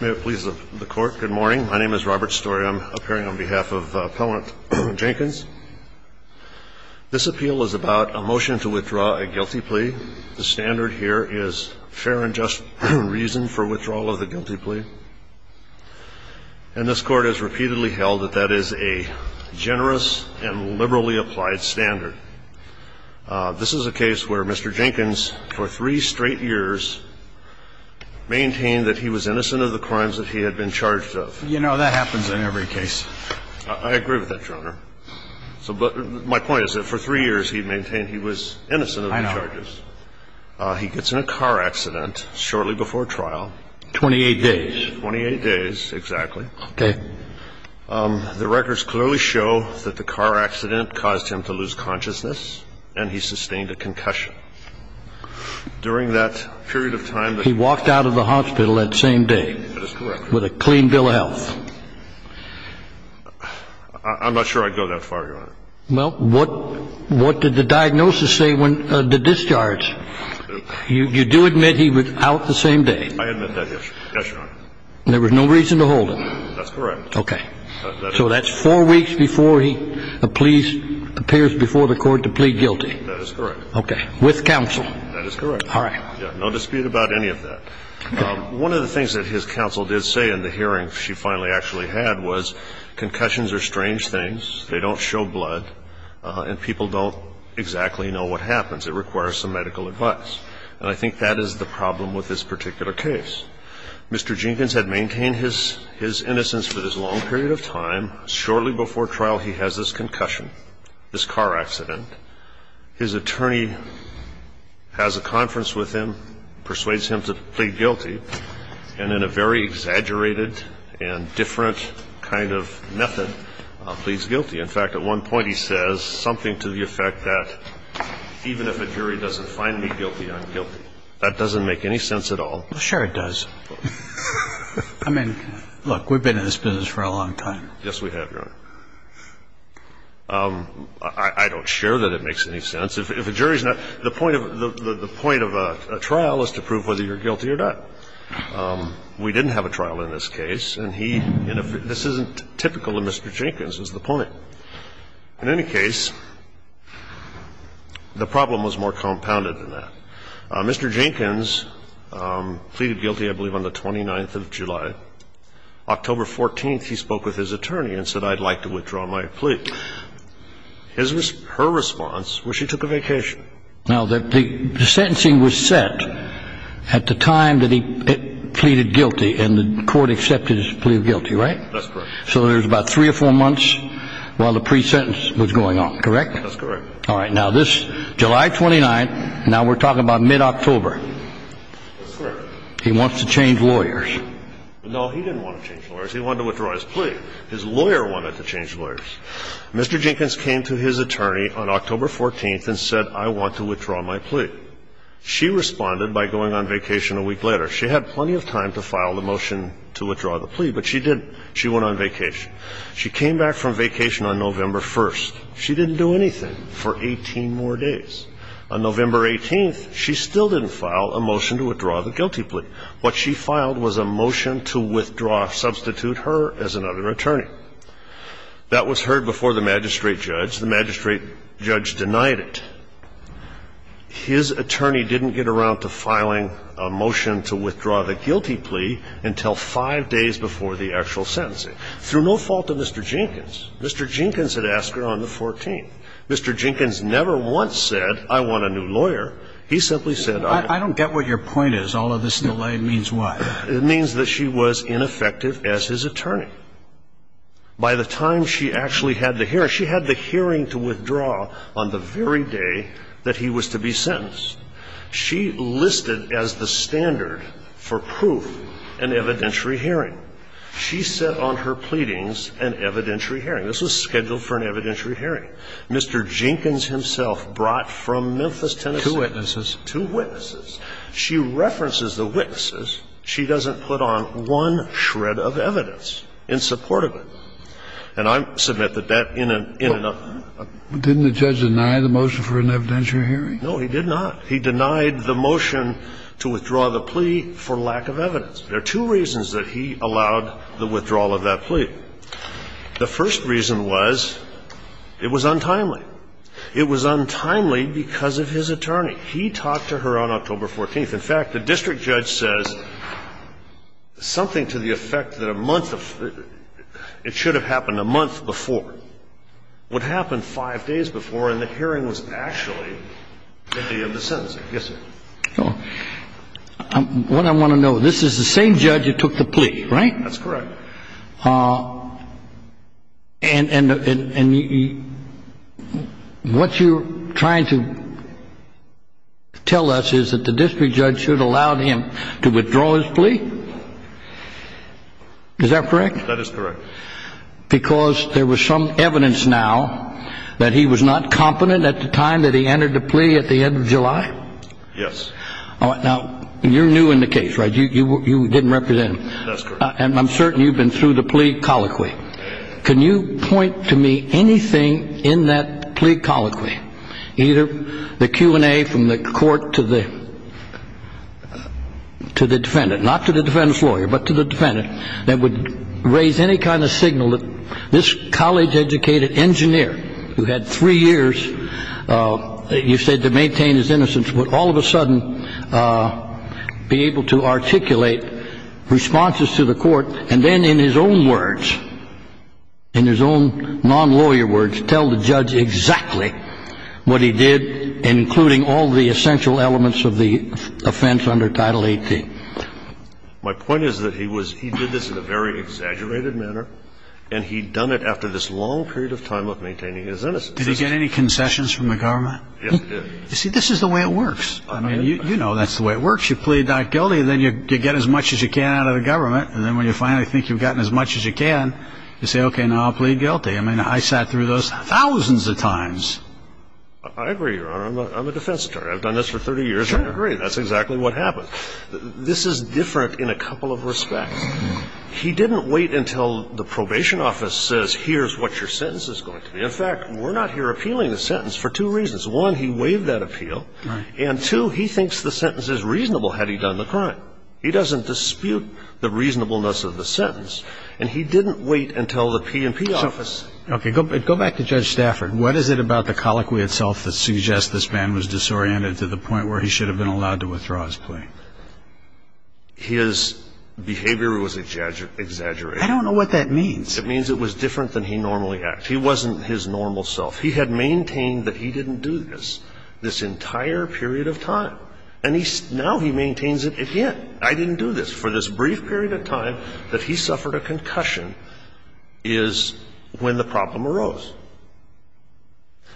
May it please the Court, good morning. My name is Robert Story. I'm appearing on behalf of Appellant Jenkins. This appeal is about a motion to withdraw a guilty plea. The standard here is fair and just reason for withdrawal of the guilty plea. And this Court has repeatedly held that that is a generous and liberally applied standard. This is a case where Mr. Jenkins, for three straight years, maintained that he was innocent of the crimes that he had been charged of. You know, that happens in every case. I agree with that, Your Honor. But my point is that for three years he maintained he was innocent of the charges. I know. He gets in a car accident shortly before trial. Twenty-eight days. Twenty-eight days, exactly. Okay. The records clearly show that the car accident caused him to lose consciousness and he sustained a concussion. During that period of time that he was in the hospital. He walked out of the hospital that same day. That is correct. With a clean bill of health. I'm not sure I'd go that far, Your Honor. Well, what did the diagnosis say when the discharge? You do admit he was out the same day. I admit that, yes, Your Honor. And there was no reason to hold him. That's correct. Okay. So that's four weeks before he pleads, appears before the court to plead guilty. That is correct. Okay. With counsel. That is correct. All right. No dispute about any of that. One of the things that his counsel did say in the hearing she finally actually had was concussions are strange things. They don't show blood. And people don't exactly know what happens. It requires some medical advice. And I think that is the problem with this particular case. Mr. Jenkins had maintained his innocence for this long period of time. Shortly before trial he has this concussion, this car accident. His attorney has a conference with him, persuades him to plead guilty, and in a very exaggerated and different kind of method pleads guilty. In fact, at one point he says something to the effect that even if a jury doesn't find me guilty, I'm guilty. That doesn't make any sense at all. Well, sure it does. I mean, look, we've been in this business for a long time. Yes, we have, Your Honor. I don't share that it makes any sense. If a jury's not the point of a trial is to prove whether you're guilty or not. We didn't have a trial in this case. And this isn't typical of Mr. Jenkins, is the point. In any case, the problem was more compounded than that. Mr. Jenkins pleaded guilty, I believe, on the 29th of July. October 14th he spoke with his attorney and said, I'd like to withdraw my plea. His response, her response was she took a vacation. Now, the sentencing was set at the time that he pleaded guilty and the court accepted his plea of guilty, right? That's correct. So there was about three or four months while the pre-sentence was going on, correct? That's correct. All right. Now, this July 29th, now we're talking about mid-October. That's correct. He wants to change lawyers. No, he didn't want to change lawyers. He wanted to withdraw his plea. His lawyer wanted to change lawyers. Mr. Jenkins came to his attorney on October 14th and said, I want to withdraw my plea. She responded by going on vacation a week later. She had plenty of time to file the motion to withdraw the plea, but she didn't. She went on vacation. She came back from vacation on November 1st. She didn't do anything for 18 more days. On November 18th, she still didn't file a motion to withdraw the guilty plea. What she filed was a motion to withdraw, substitute her as another attorney. That was heard before the magistrate judge. The magistrate judge denied it. His attorney didn't get around to filing a motion to withdraw the guilty plea until five days before the actual sentencing, through no fault of Mr. Jenkins. Mr. Jenkins had asked her on the 14th. Mr. Jenkins never once said, I want a new lawyer. He simply said, I want a new lawyer. I don't get what your point is. All of this delay means what? It means that she was ineffective as his attorney. By the time she actually had the hearing, she had the hearing to withdraw on the very day that he was to be sentenced. She listed as the standard for proof an evidentiary hearing. She set on her pleadings an evidentiary hearing. This was scheduled for an evidentiary hearing. Mr. Jenkins himself brought from Memphis, Tennessee. Two witnesses. Two witnesses. She references the witnesses. She doesn't put on one shred of evidence in support of it. And I submit that that, in a, in a. Didn't the judge deny the motion for an evidentiary hearing? No, he did not. He denied the motion to withdraw the plea for lack of evidence. There are two reasons that he allowed the withdrawal of that plea. The first reason was it was untimely. It was untimely because of his attorney. He talked to her on October 14th. In fact, the district judge says something to the effect that a month of, it should have happened a month before. What happened five days before in the hearing was actually the day of the sentencing. Yes, sir. What I want to know, this is the same judge who took the plea, right? That's correct. And, and, and you, what you're trying to tell us is that the district judge should have allowed him to withdraw his plea? Is that correct? That is correct. Because there was some evidence now that he was not competent at the time that he entered the plea at the end of July? Yes. All right. Now, you're new in the case, right? You didn't represent him. That's correct. And I'm certain you've been through the plea colloquy. Can you point to me anything in that plea colloquy, either the Q&A from the court to the, to the defendant, not to the defendant's lawyer, but to the defendant, that would raise any kind of signal that this college-educated engineer who had three years, you said, to maintain his innocence would all of a sudden be able to articulate responses to the court and then in his own words, in his own non-lawyer words, tell the judge exactly what he did, including all the essential elements of the offense under Title 18. My point is that he was, he did this in a very exaggerated manner, and he'd done it after this long period of time of maintaining his innocence. Did he get any concessions from the government? Yes, he did. You see, this is the way it works. I mean, you know that's the way it works. You plead not guilty, then you get as much as you can out of the government, and then when you finally think you've gotten as much as you can, you say, okay, now I'll plead guilty. I mean, I sat through those thousands of times. I agree, Your Honor. I'm a defense attorney. I've done this for 30 years. I agree. That's exactly what happened. This is different in a couple of respects. He didn't wait until the probation office says here's what your sentence is going to be. In fact, we're not here appealing the sentence for two reasons. One, he waived that appeal, and two, he thinks the sentence is reasonable had he done the crime. He doesn't dispute the reasonableness of the sentence, and he didn't wait until the P&P office. Okay. Go back to Judge Stafford. What is it about the colloquy itself that suggests this man was disoriented to the point where he should have been allowed to withdraw his plea? His behavior was exaggerated. I don't know what that means. It means it was different than he normally acts. He wasn't his normal self. He had maintained that he didn't do this this entire period of time, and now he maintains it again. I didn't do this. For this brief period of time that he suffered a concussion is when the problem arose.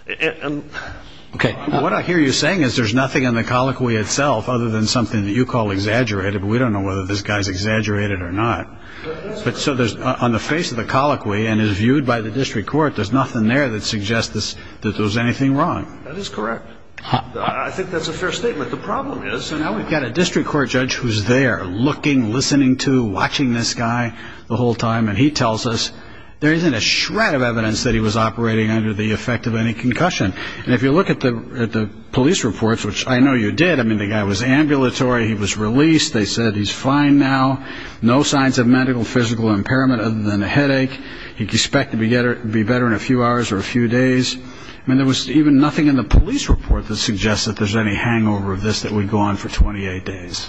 Okay. What I hear you saying is there's nothing in the colloquy itself other than something that you call exaggerated, but we don't know whether this guy's exaggerated or not. So on the face of the colloquy and is viewed by the district court, there's nothing there that suggests that there was anything wrong. That is correct. I think that's a fair statement. The problem is, so now we've got a district court judge who's there looking, listening to, watching this guy the whole time, and he tells us there isn't a shred of evidence that he was operating under the effect of any concussion. And if you look at the police reports, which I know you did, I mean, the guy was ambulatory. He was released. They said he's fine now. No signs of medical physical impairment other than a headache. He's expected to be better in a few hours or a few days. I mean, there was even nothing in the police report that suggests that there's any hangover of this that would go on for 28 days.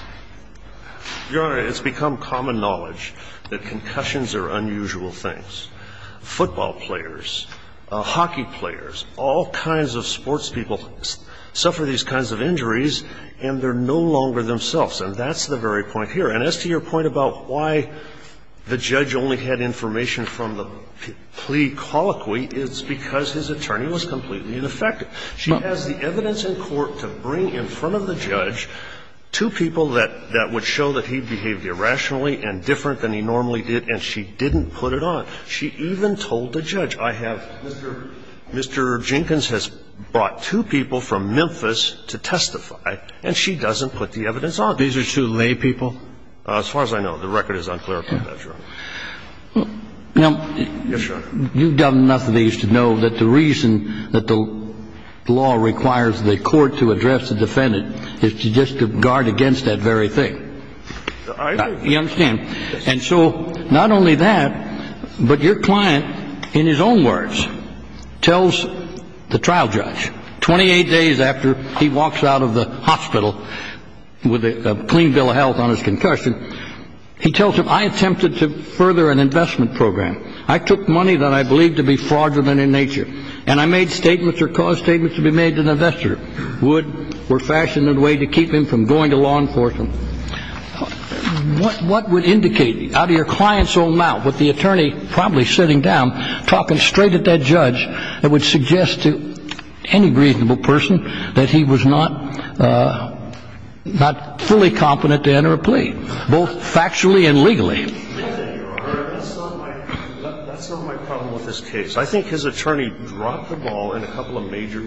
Your Honor, it's become common knowledge that concussions are unusual things. Football players, hockey players, all kinds of sports people suffer these kinds of injuries, and they're no longer themselves. And that's the very point here. And as to your point about why the judge only had information from the plea colloquy, it's because his attorney was completely ineffective. She has the evidence in court to bring in front of the judge two people that would show that he behaved irrationally and different than he normally did, and she didn't put it on. She even told the judge, I have Mr. Jenkins has brought two people from Memphis to testify, and she doesn't put the evidence on. These are two lay people? The record is unclarified, Your Honor. Now, you've done enough of these to know that the reason that the law requires the court to address the defendant is just to guard against that very thing. You understand? And so not only that, but your client, in his own words, tells the trial judge, 28 days after he walks out of the hospital with a clean bill of health on his concussion, he tells him, I attempted to further an investment program. I took money that I believed to be fraudulent in nature, and I made statements or caused statements to be made to an investor, would or fashioned a way to keep him from going to law enforcement. What would indicate, out of your client's own mouth, with the attorney probably sitting down, talking straight at that judge that would suggest to any reasonable person that he was not fully competent to enter a plea? Both factually and legally. That's not my problem with this case. I think his attorney dropped the ball in a couple of major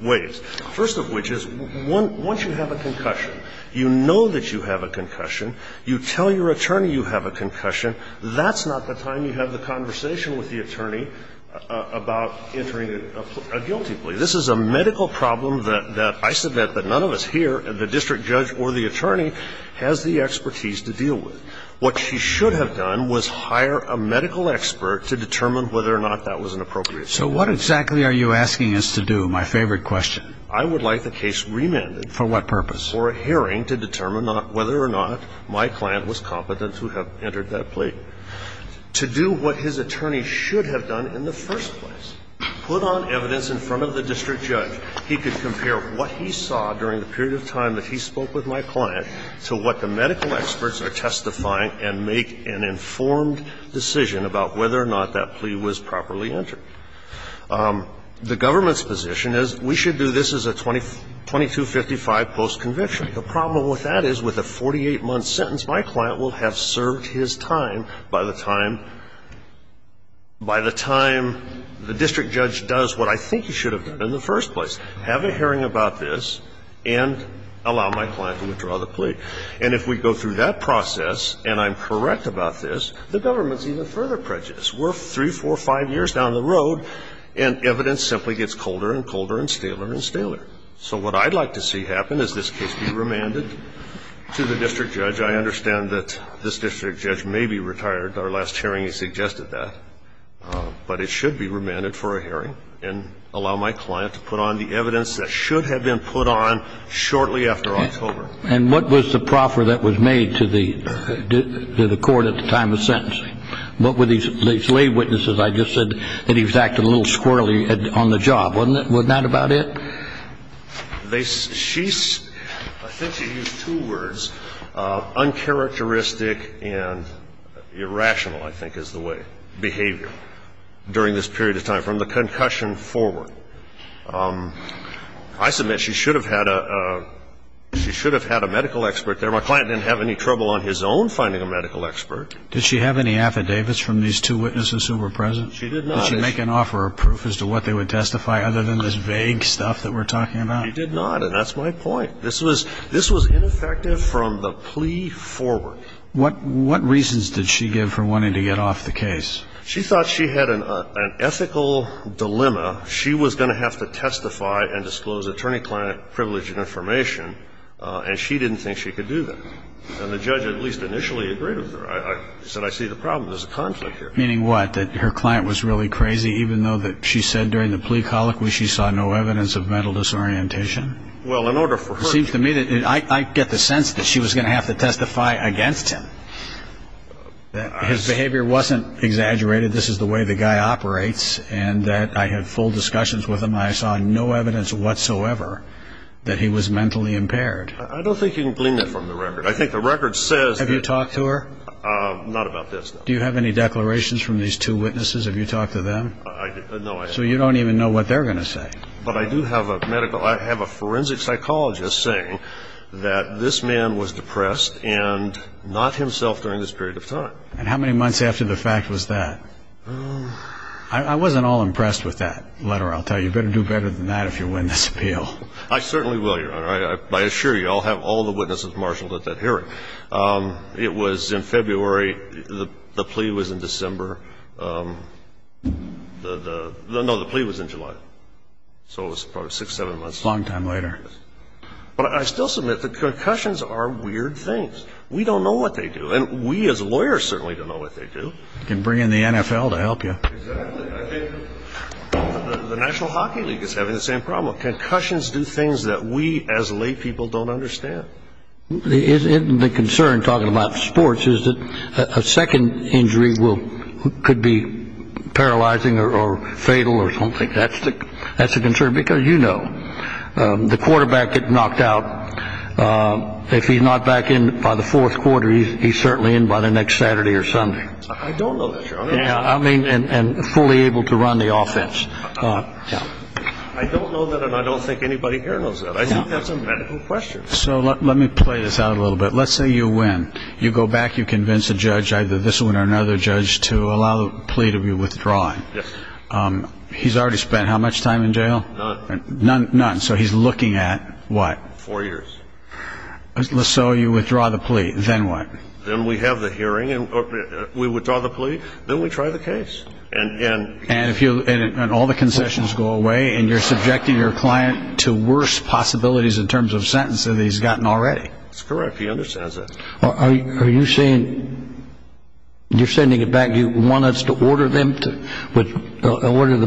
ways, first of which is once you have a concussion, you know that you have a concussion, you tell your attorney you have a concussion, that's not the time you have the conversation with the attorney about entering a guilty plea. This is a medical problem that I submit that none of us here, the district judge or the attorney, has the expertise to deal with. What she should have done was hire a medical expert to determine whether or not that was an appropriate plea. So what exactly are you asking us to do, my favorite question? I would like the case remanded. For what purpose? For a hearing to determine whether or not my client was competent to have entered that plea. To do what his attorney should have done in the first place, put on evidence in front of the district judge. He could compare what he saw during the period of time that he spoke with my client to what the medical experts are testifying and make an informed decision about whether or not that plea was properly entered. The government's position is we should do this as a 2255 post-conviction. The problem with that is with a 48-month sentence, my client will have served his time by the time the district judge does what I think he should have done in the first place, have a hearing about this and allow my client to withdraw the plea. And if we go through that process and I'm correct about this, the government's even further prejudiced. We're three, four, five years down the road and evidence simply gets colder and colder and staler and staler. So what I'd like to see happen is this case be remanded to the district judge. I understand that this district judge may be retired. Our last hearing he suggested that. But it should be remanded for a hearing and allow my client to put on the evidence that should have been put on shortly after October. And what was the proffer that was made to the court at the time of sentencing? What were these lay witnesses? I just said that he was acting a little squirrely on the job. Wasn't that about it? I think she used two words. Uncharacteristic and irrational, I think, is the word. Behavior. During this period of time. From the concussion forward. I submit she should have had a medical expert there. My client didn't have any trouble on his own finding a medical expert. Did she have any affidavits from these two witnesses who were present? She did not. Did she make an offer of proof as to what they would testify other than this vague stuff that we're talking about? She did not. And that's my point. This was ineffective from the plea forward. What reasons did she give for wanting to get off the case? She thought she had an ethical dilemma. She was going to have to testify and disclose attorney-client privilege and information, and she didn't think she could do that. And the judge at least initially agreed with her. He said, I see the problem. There's a conflict here. Meaning what? That her client was really crazy even though she said during the plea colloquy she saw no evidence of mental disorientation? Well, in order for her to It seems to me that I get the sense that she was going to have to testify against him. His behavior wasn't exaggerated. This is the way the guy operates and that I had full discussions with him. I saw no evidence whatsoever that he was mentally impaired. I don't think you can glean that from the record. I think the record says Have you talked to her? Not about this. Do you have any declarations from these two witnesses? Have you talked to them? No, I haven't. So you don't even know what they're going to say. But I do have a forensic psychologist saying that this man was depressed and not himself during this period of time. And how many months after the fact was that? I wasn't all impressed with that letter, I'll tell you. You better do better than that if you win this appeal. I certainly will, Your Honor. I assure you I'll have all the witnesses marshaled at that hearing. It was in February. The plea was in December. No, the plea was in July. So it was probably six, seven months. Long time later. But I still submit that concussions are weird things. We don't know what they do. And we as lawyers certainly don't know what they do. You can bring in the NFL to help you. Exactly. I think the National Hockey League is having the same problem. Concussions do things that we as lay people don't understand. The concern, talking about sports, is that a second injury could be paralyzing or fatal or something. That's a concern because, you know, the quarterback gets knocked out. If he's not back in by the fourth quarter, he's certainly in by the next Saturday or Sunday. I don't know that, Your Honor. And fully able to run the offense. I don't know that, and I don't think anybody here knows that. I think that's a medical question. So let me play this out a little bit. Let's say you win. You go back. You convince a judge, either this one or another judge, to allow the plea to be withdrawn. Yes. He's already spent how much time in jail? None. None. So he's looking at what? Four years. So you withdraw the plea. Then what? Then we have the hearing. We withdraw the plea. Then we try the case. And all the concessions go away, and you're subjecting your client to worse possibilities in terms of sentences than he's gotten already. That's correct. He understands that. Are you saying you're sending it back. Do you want us to order the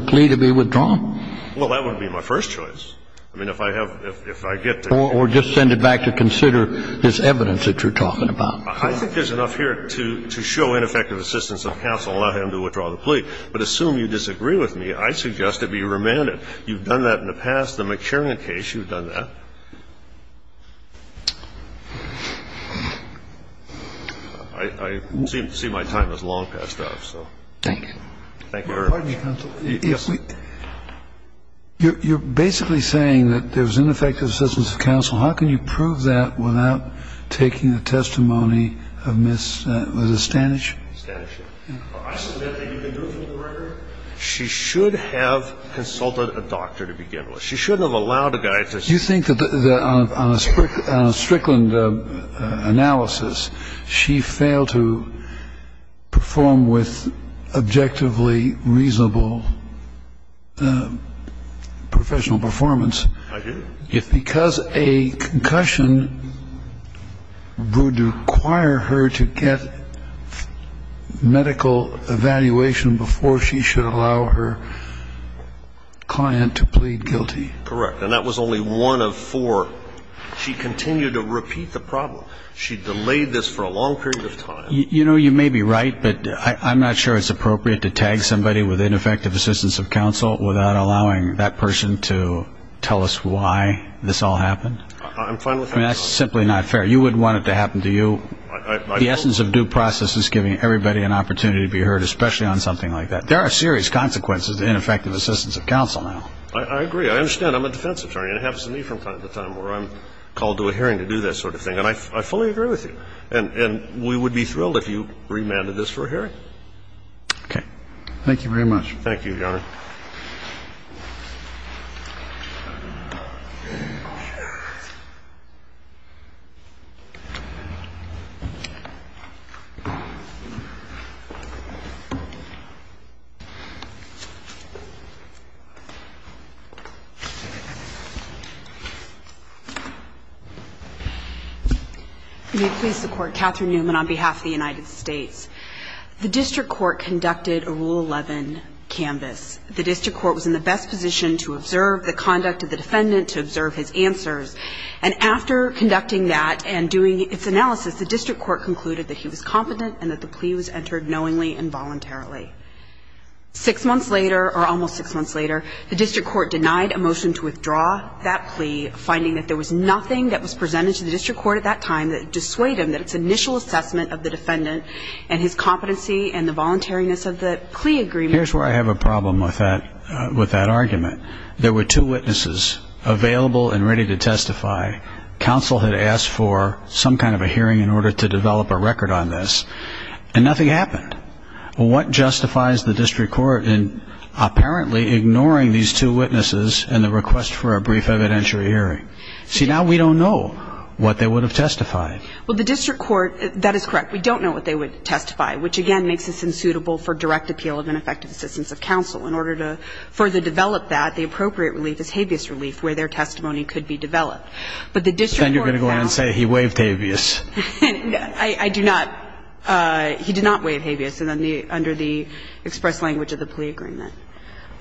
plea to be withdrawn? Well, that wouldn't be my first choice. I mean, if I get to. Or just send it back to consider this evidence that you're talking about. I think there's enough here to show ineffective assistance of counsel and allow him to withdraw the plea. But I think it's unfair to say that you're not going to let him do it. But assume you disagree with me. I suggest that it be remanded. You've done that in the past. In the McCherry case, you've done that. I seem to see my time has long passed up. Thank you. Thank you. Pardon me, counsel. You're basically saying that there was ineffective assistance of counsel. How can you prove that without taking the testimony of Ms. Stanisch? Stanisch. I submit that you can do it for the record. She should have consulted a doctor to begin with. She shouldn't have allowed a guy to do it. Do you think that on a Strickland analysis, she failed to perform with objectively reasonable professional performance? I do. Because a concussion would require her to get medical evaluation before she should allow her client to plead guilty. Correct. And that was only one of four. She continued to repeat the problem. She delayed this for a long period of time. You know, you may be right, but I'm not sure it's appropriate to tag somebody with ineffective assistance of counsel without allowing that person to tell us why this all happened. I'm fine with that. I mean, that's simply not fair. You wouldn't want it to happen to you. The essence of due process is giving everybody an opportunity to be heard, especially on something like that. There are serious consequences of ineffective assistance of counsel now. I agree. I understand I'm a defense attorney, and it happens to me from time to time where I'm called to a hearing to do that sort of thing. And I fully agree with you. And we would be thrilled if you remanded this for a hearing. Okay. Thank you very much. Thank you, Your Honor. May it please the Court. Catherine Newman on behalf of the United States. The district court conducted a Rule 11 canvas. The district court was in the best position to observe the conduct of the defendant, to observe his answers. And after conducting that and doing its analysis, the district court concluded that he was competent and that the plea was entered knowingly and voluntarily. Six months later, or almost six months later, the district court denied a motion to withdraw that plea, finding that there was nothing that was presented to the district court at that time that dissuade him that its initial assessment of the defendant and his competency and the voluntariness of the plea agreement. Here's where I have a problem with that argument. There were two witnesses available and ready to testify. Counsel had asked for some kind of a hearing in order to develop a record on this, and nothing happened. What justifies the district court in apparently ignoring these two witnesses in the request for a brief evidentiary hearing? See, now we don't know what they would have testified. Well, the district court, that is correct. We don't know what they would testify, which again makes this unsuitable for direct appeal of ineffective assistance of counsel. In order to further develop that, the appropriate relief is habeas relief, where their testimony could be developed. But the district court found that. Then you're going to go in and say he waived habeas. I do not. He did not waive habeas under the express language of the plea agreement.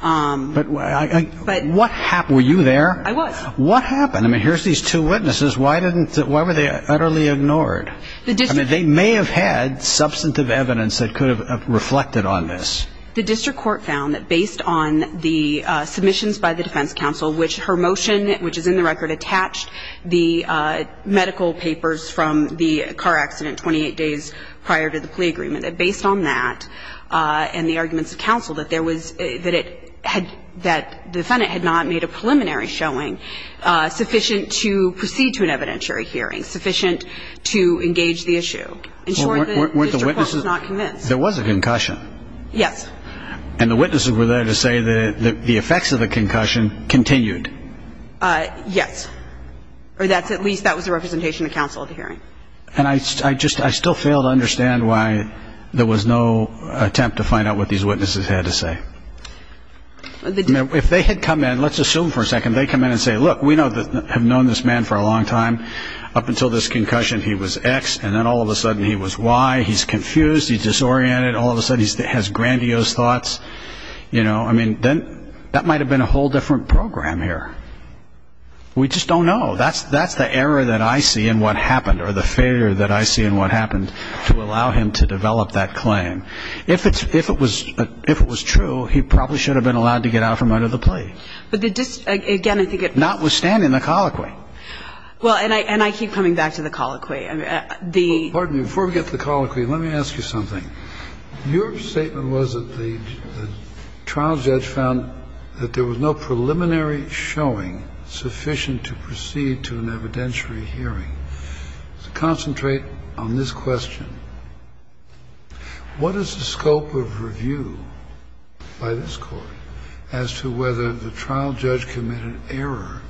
But what happened? Were you there? I was. What happened? I mean, here's these two witnesses. Why were they utterly ignored? I mean, they may have had substantive evidence that could have reflected on this. The district court found that based on the submissions by the defense counsel, which her motion, which is in the record, attached the medical papers from the car accident 28 days prior to the plea agreement, that based on that and the arguments of counsel, that the defendant had not made a preliminary showing sufficient to proceed to an evidentiary hearing, sufficient to engage the issue. In short, the district court was not convinced. There was a concussion. Yes. And the witnesses were there to say that the effects of the concussion continued. Yes. Or at least that was the representation of counsel at the hearing. And I still fail to understand why there was no attempt to find out what these witnesses had to say. If they had come in, let's assume for a second they come in and say, look, we have known this man for a long time. Up until this concussion he was X, and then all of a sudden he was Y. He's confused. He's disoriented. All of a sudden he has grandiose thoughts. You know, I mean, that might have been a whole different program here. We just don't know. That's the error that I see in what happened or the failure that I see in what happened to allow him to develop that claim. If it was true, he probably should have been allowed to get out from under the plea. But the district, again, I think it's notwithstanding the colloquy. Well, and I keep coming back to the colloquy. Pardon me. Before we get to the colloquy, let me ask you something. Your statement was that the trial judge found that there was no preliminary showing sufficient to proceed to an evidentiary hearing. Concentrate on this question. What is the scope of review by this Court as to whether the trial judge committed error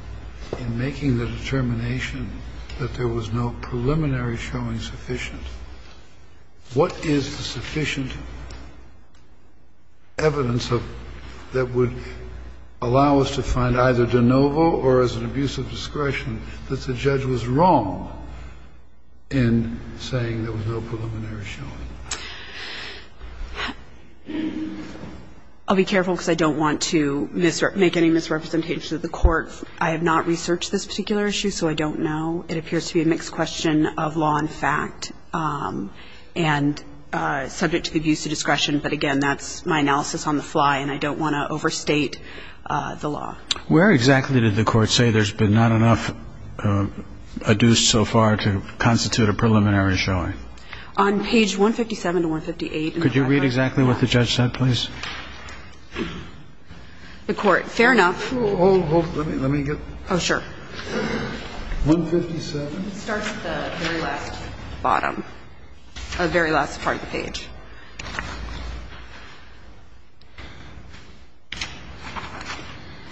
in making the determination that there was no preliminary showing sufficient? What is the sufficient evidence that would allow us to find either de novo or as an abuse of discretion that the judge was wrong in saying there was no preliminary showing? I'll be careful because I don't want to make any misrepresentations of the Court. I have not researched this particular issue, so I don't know. It appears to be a mixed question of law and fact and subject to the abuse of discretion. But, again, that's my analysis on the fly, and I don't want to overstate the law. Where exactly did the Court say there's been not enough abuse so far to constitute a preliminary showing? On page 157 to 158. Could you read exactly what the judge said, please? The Court. Fair enough. Hold, hold. Let me get. Oh, sure. It starts at the very last bottom, the very last part of the page.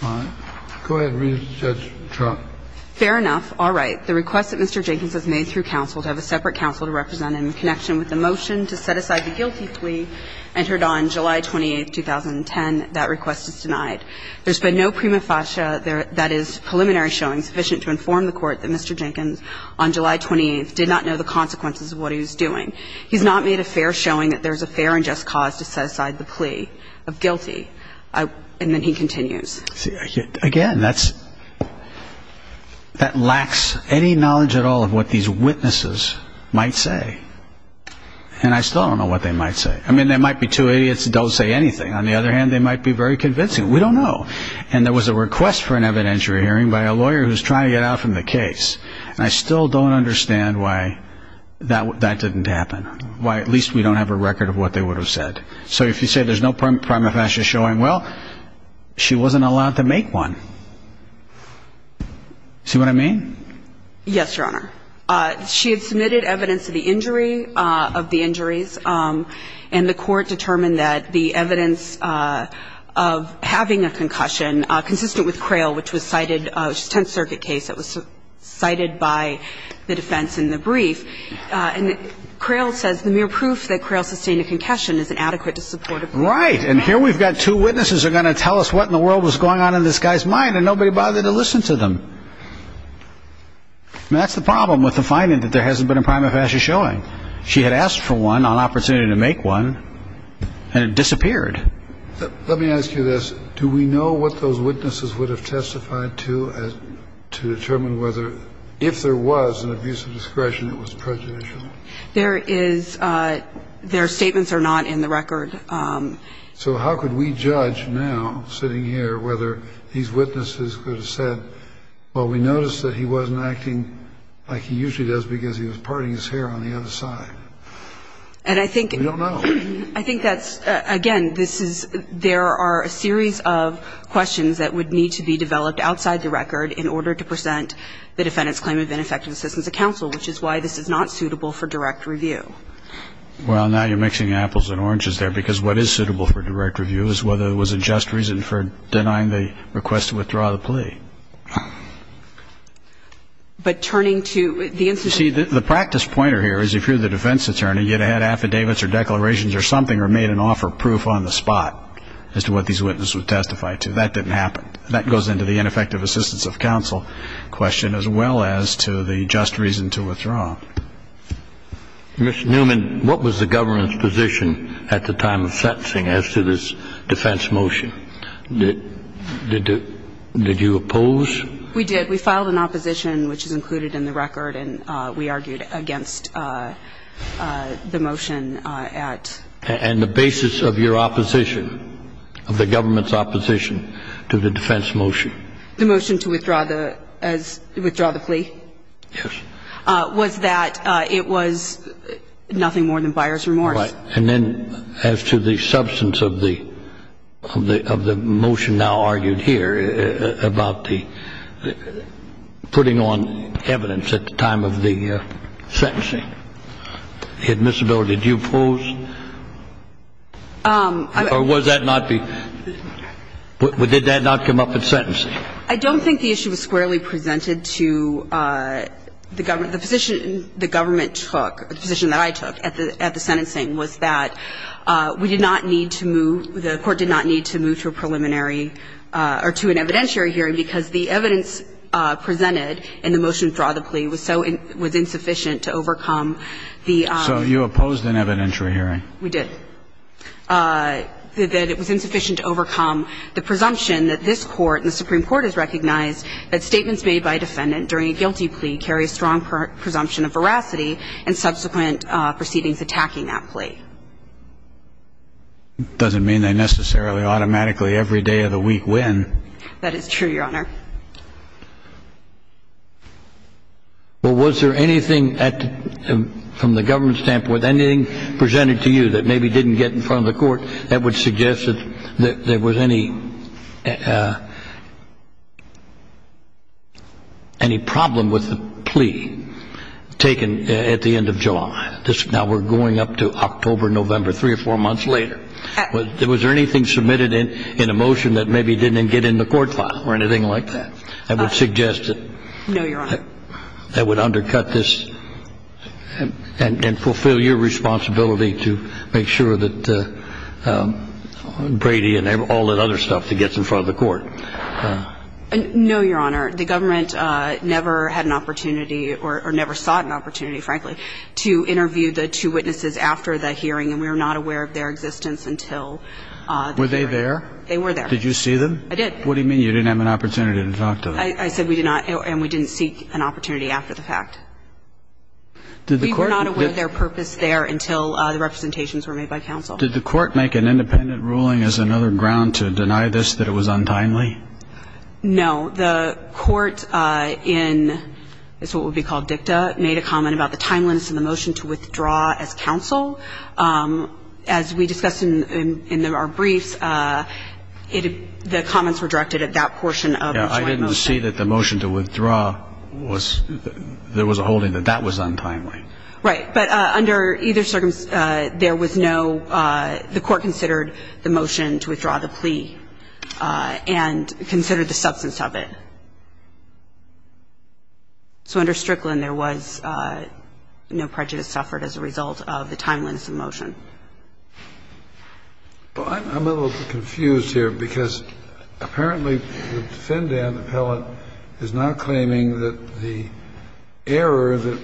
All right. Go ahead, Judge Trump. Fair enough. All right. The request that Mr. Jenkins has made through counsel to have a separate counsel to represent him in connection with the motion to set aside the guilty plea entered on July 28, 2010, that request is denied. There's been no prima facie that is preliminary showing sufficient to inform the Court that Mr. Jenkins on July 28 did not know the consequences of what he was doing. He's not made a fair showing that there's a fair and just cause to set aside the plea of guilty. And then he continues. Again, that's, that lacks any knowledge at all of what these witnesses might say. And I still don't know what they might say. I mean, they might be two idiots that don't say anything. On the other hand, they might be very convincing. We don't know. And there was a request for an evidentiary hearing by a lawyer who's trying to get out from the case. And I still don't understand why that didn't happen, why at least we don't have a record of what they would have said. So if you say there's no prima facie showing, well, she wasn't allowed to make one. See what I mean? Yes, Your Honor. She had submitted evidence of the injury, of the injuries, and the Court determined that the evidence of having a concussion consistent with Crail, which is a Tenth Circuit case that was cited by the defense in the brief. And Crail says the mere proof that Crail sustained a concussion is inadequate to support a plea. Right. And here we've got two witnesses that are going to tell us what in the world was going on in this guy's mind, and nobody bothered to listen to them. And that's the problem with the finding that there hasn't been a prima facie showing. She had asked for one, an opportunity to make one, and it disappeared. Let me ask you this. Do we know what those witnesses would have testified to, to determine whether, if there was an abuse of discretion, it was prejudicial? There is. Their statements are not in the record. So how could we judge now, sitting here, whether these witnesses would have said, well, we noticed that he wasn't acting like he usually does because he was parting his hair on the other side? And I think... We don't know. I think that's, again, this is, there are a series of questions that would need to be developed outside the record in order to present the defendant's claim of ineffective assistance to counsel, which is why this is not suitable for direct review. Well, now you're mixing apples and oranges there, because what is suitable for direct review is whether it was a just reason for denying the request to withdraw the plea. But turning to the instance... You see, the practice pointer here is if you're the defense attorney, you'd have had affidavits or declarations or something or made an offer of proof on the spot as to what these witnesses would testify to. That didn't happen. That goes into the ineffective assistance of counsel question as well as to the just reason to withdraw. Ms. Newman, what was the government's position at the time of sentencing as to this defense motion? Did you oppose? We did. We held an opposition, which is included in the record, and we argued against the motion at... And the basis of your opposition, of the government's opposition to the defense motion? The motion to withdraw the plea? Yes. Was that it was nothing more than buyer's remorse. Right. And then as to the substance of the motion now argued here about the putting on evidence at the time of the sentencing, admissibility, did you oppose? Or was that not the... Did that not come up at sentencing? I don't think the issue was squarely presented to the government. The position the government took, the position that I took at the sentencing, was that we did not need to move, the court did not need to move to a preliminary or to an evidentiary hearing because the evidence presented in the motion to withdraw the plea was so... was insufficient to overcome the... So you opposed an evidentiary hearing? We did. That it was insufficient to overcome the presumption that this court and the Supreme Court has recognized that statements made by a defendant during a guilty plea carry a strong presumption of veracity and subsequent proceedings attacking that plea. Doesn't mean they necessarily automatically every day of the week win. That is true, Your Honor. Well, was there anything at the... from the government's standpoint, anything presented to you that maybe didn't get in front of the court that would suggest that there was any... any problem with the plea taken at the end of July? Now we're going up to October, November, three or four months later. Was there anything submitted in a motion that maybe didn't get in the court file or anything like that that would suggest that... No, Your Honor. ...that would undercut this and fulfill your responsibility to make sure that Brady and all that other stuff that gets in front of the court? No, Your Honor. The government never had an opportunity or never sought an opportunity, frankly, to interview the two witnesses after the hearing, and we were not aware of their existence until... Were they there? They were there. Did you see them? What do you mean you didn't have an opportunity to talk to them? I said we did not, and we didn't seek an opportunity after the fact. We were not aware of their purpose there until the representations were made by counsel. Did the court make an independent ruling as another ground to deny this, that it was untimely? No. The court in what would be called dicta made a comment about the timeliness in the motion to withdraw as counsel. As we discussed in our briefs, the comments were directed at that portion of the joint motion. I didn't see that the motion to withdraw was – there was a holding that that was untimely. Right. But under either circumstance, there was no – the court considered the motion to withdraw the plea and considered the substance of it. So under Strickland, there was no prejudice suffered as a result of the timeliness of the motion. Well, I'm a little confused here because apparently the defendant, Appellant, is now claiming that the error that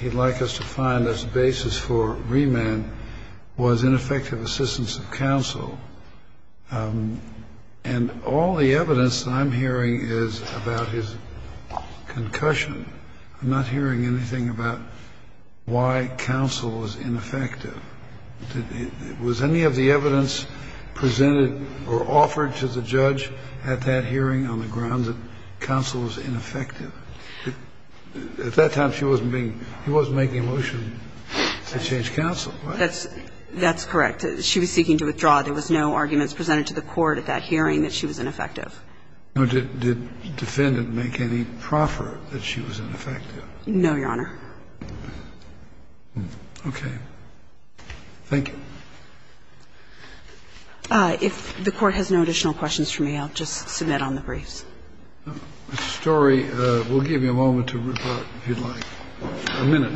he'd like us to find as basis for remand was ineffective assistance of counsel. And all the evidence that I'm hearing is about his concussion. I'm not hearing anything about why counsel is ineffective. Was any of the evidence presented or offered to the judge at that hearing on the grounds that counsel was ineffective? At that time, she wasn't being – he wasn't making a motion to change counsel. That's correct. She was seeking to withdraw. There was no arguments presented to the court at that hearing that she was ineffective. Did the defendant make any proffer that she was ineffective? No, Your Honor. Okay. Thank you. If the Court has no additional questions for me, I'll just submit on the briefs. Mr. Story, we'll give you a moment to report, if you'd like. A minute.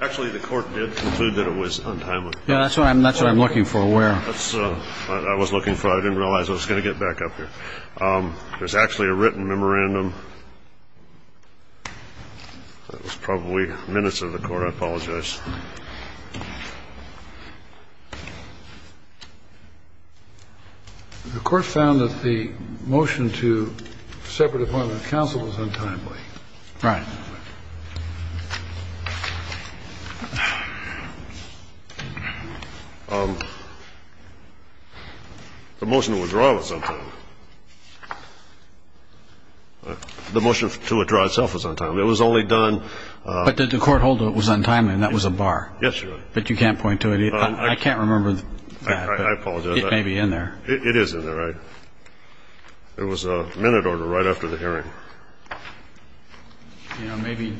Actually, the Court did conclude that it was untimely. Yeah, that's what I'm looking for. Where? That's what I was looking for. I didn't realize I was going to get back up here. There's actually a written memorandum. That was probably minutes of the Court. I apologize. The Court found that the motion to separate appointment of counsel was untimely. Right. The motion to withdraw was untimely. The motion to withdraw itself was untimely. It was only done. But the court hold that it was untimely, and that was a bar. Yes, Your Honor. But you can't point to it. I can't remember that. I apologize. It may be in there. It is in there. It was a minute order right after the hearing. You know, maybe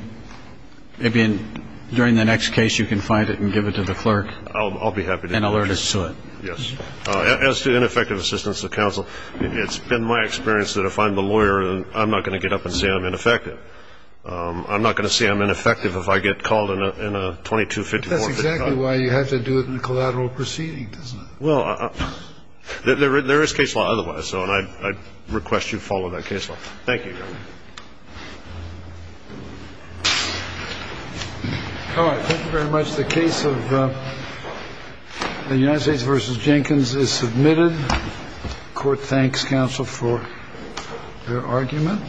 during the next case you can find it and give it to the clerk. I'll be happy to do that. And alert us to it. Yes. As to ineffective assistance of counsel, it's been my experience that if I'm the lawyer, I'm not going to get up and say I'm ineffective. I'm not going to say I'm ineffective if I get called in a 2254. That's exactly why you have to do it in a collateral proceeding, doesn't it? Well, there is case law otherwise, though, and I request you follow that case law. Thank you, Your Honor. All right. Thank you very much. The case of the United States v. Jenkins is submitted. Court thanks counsel for their argument.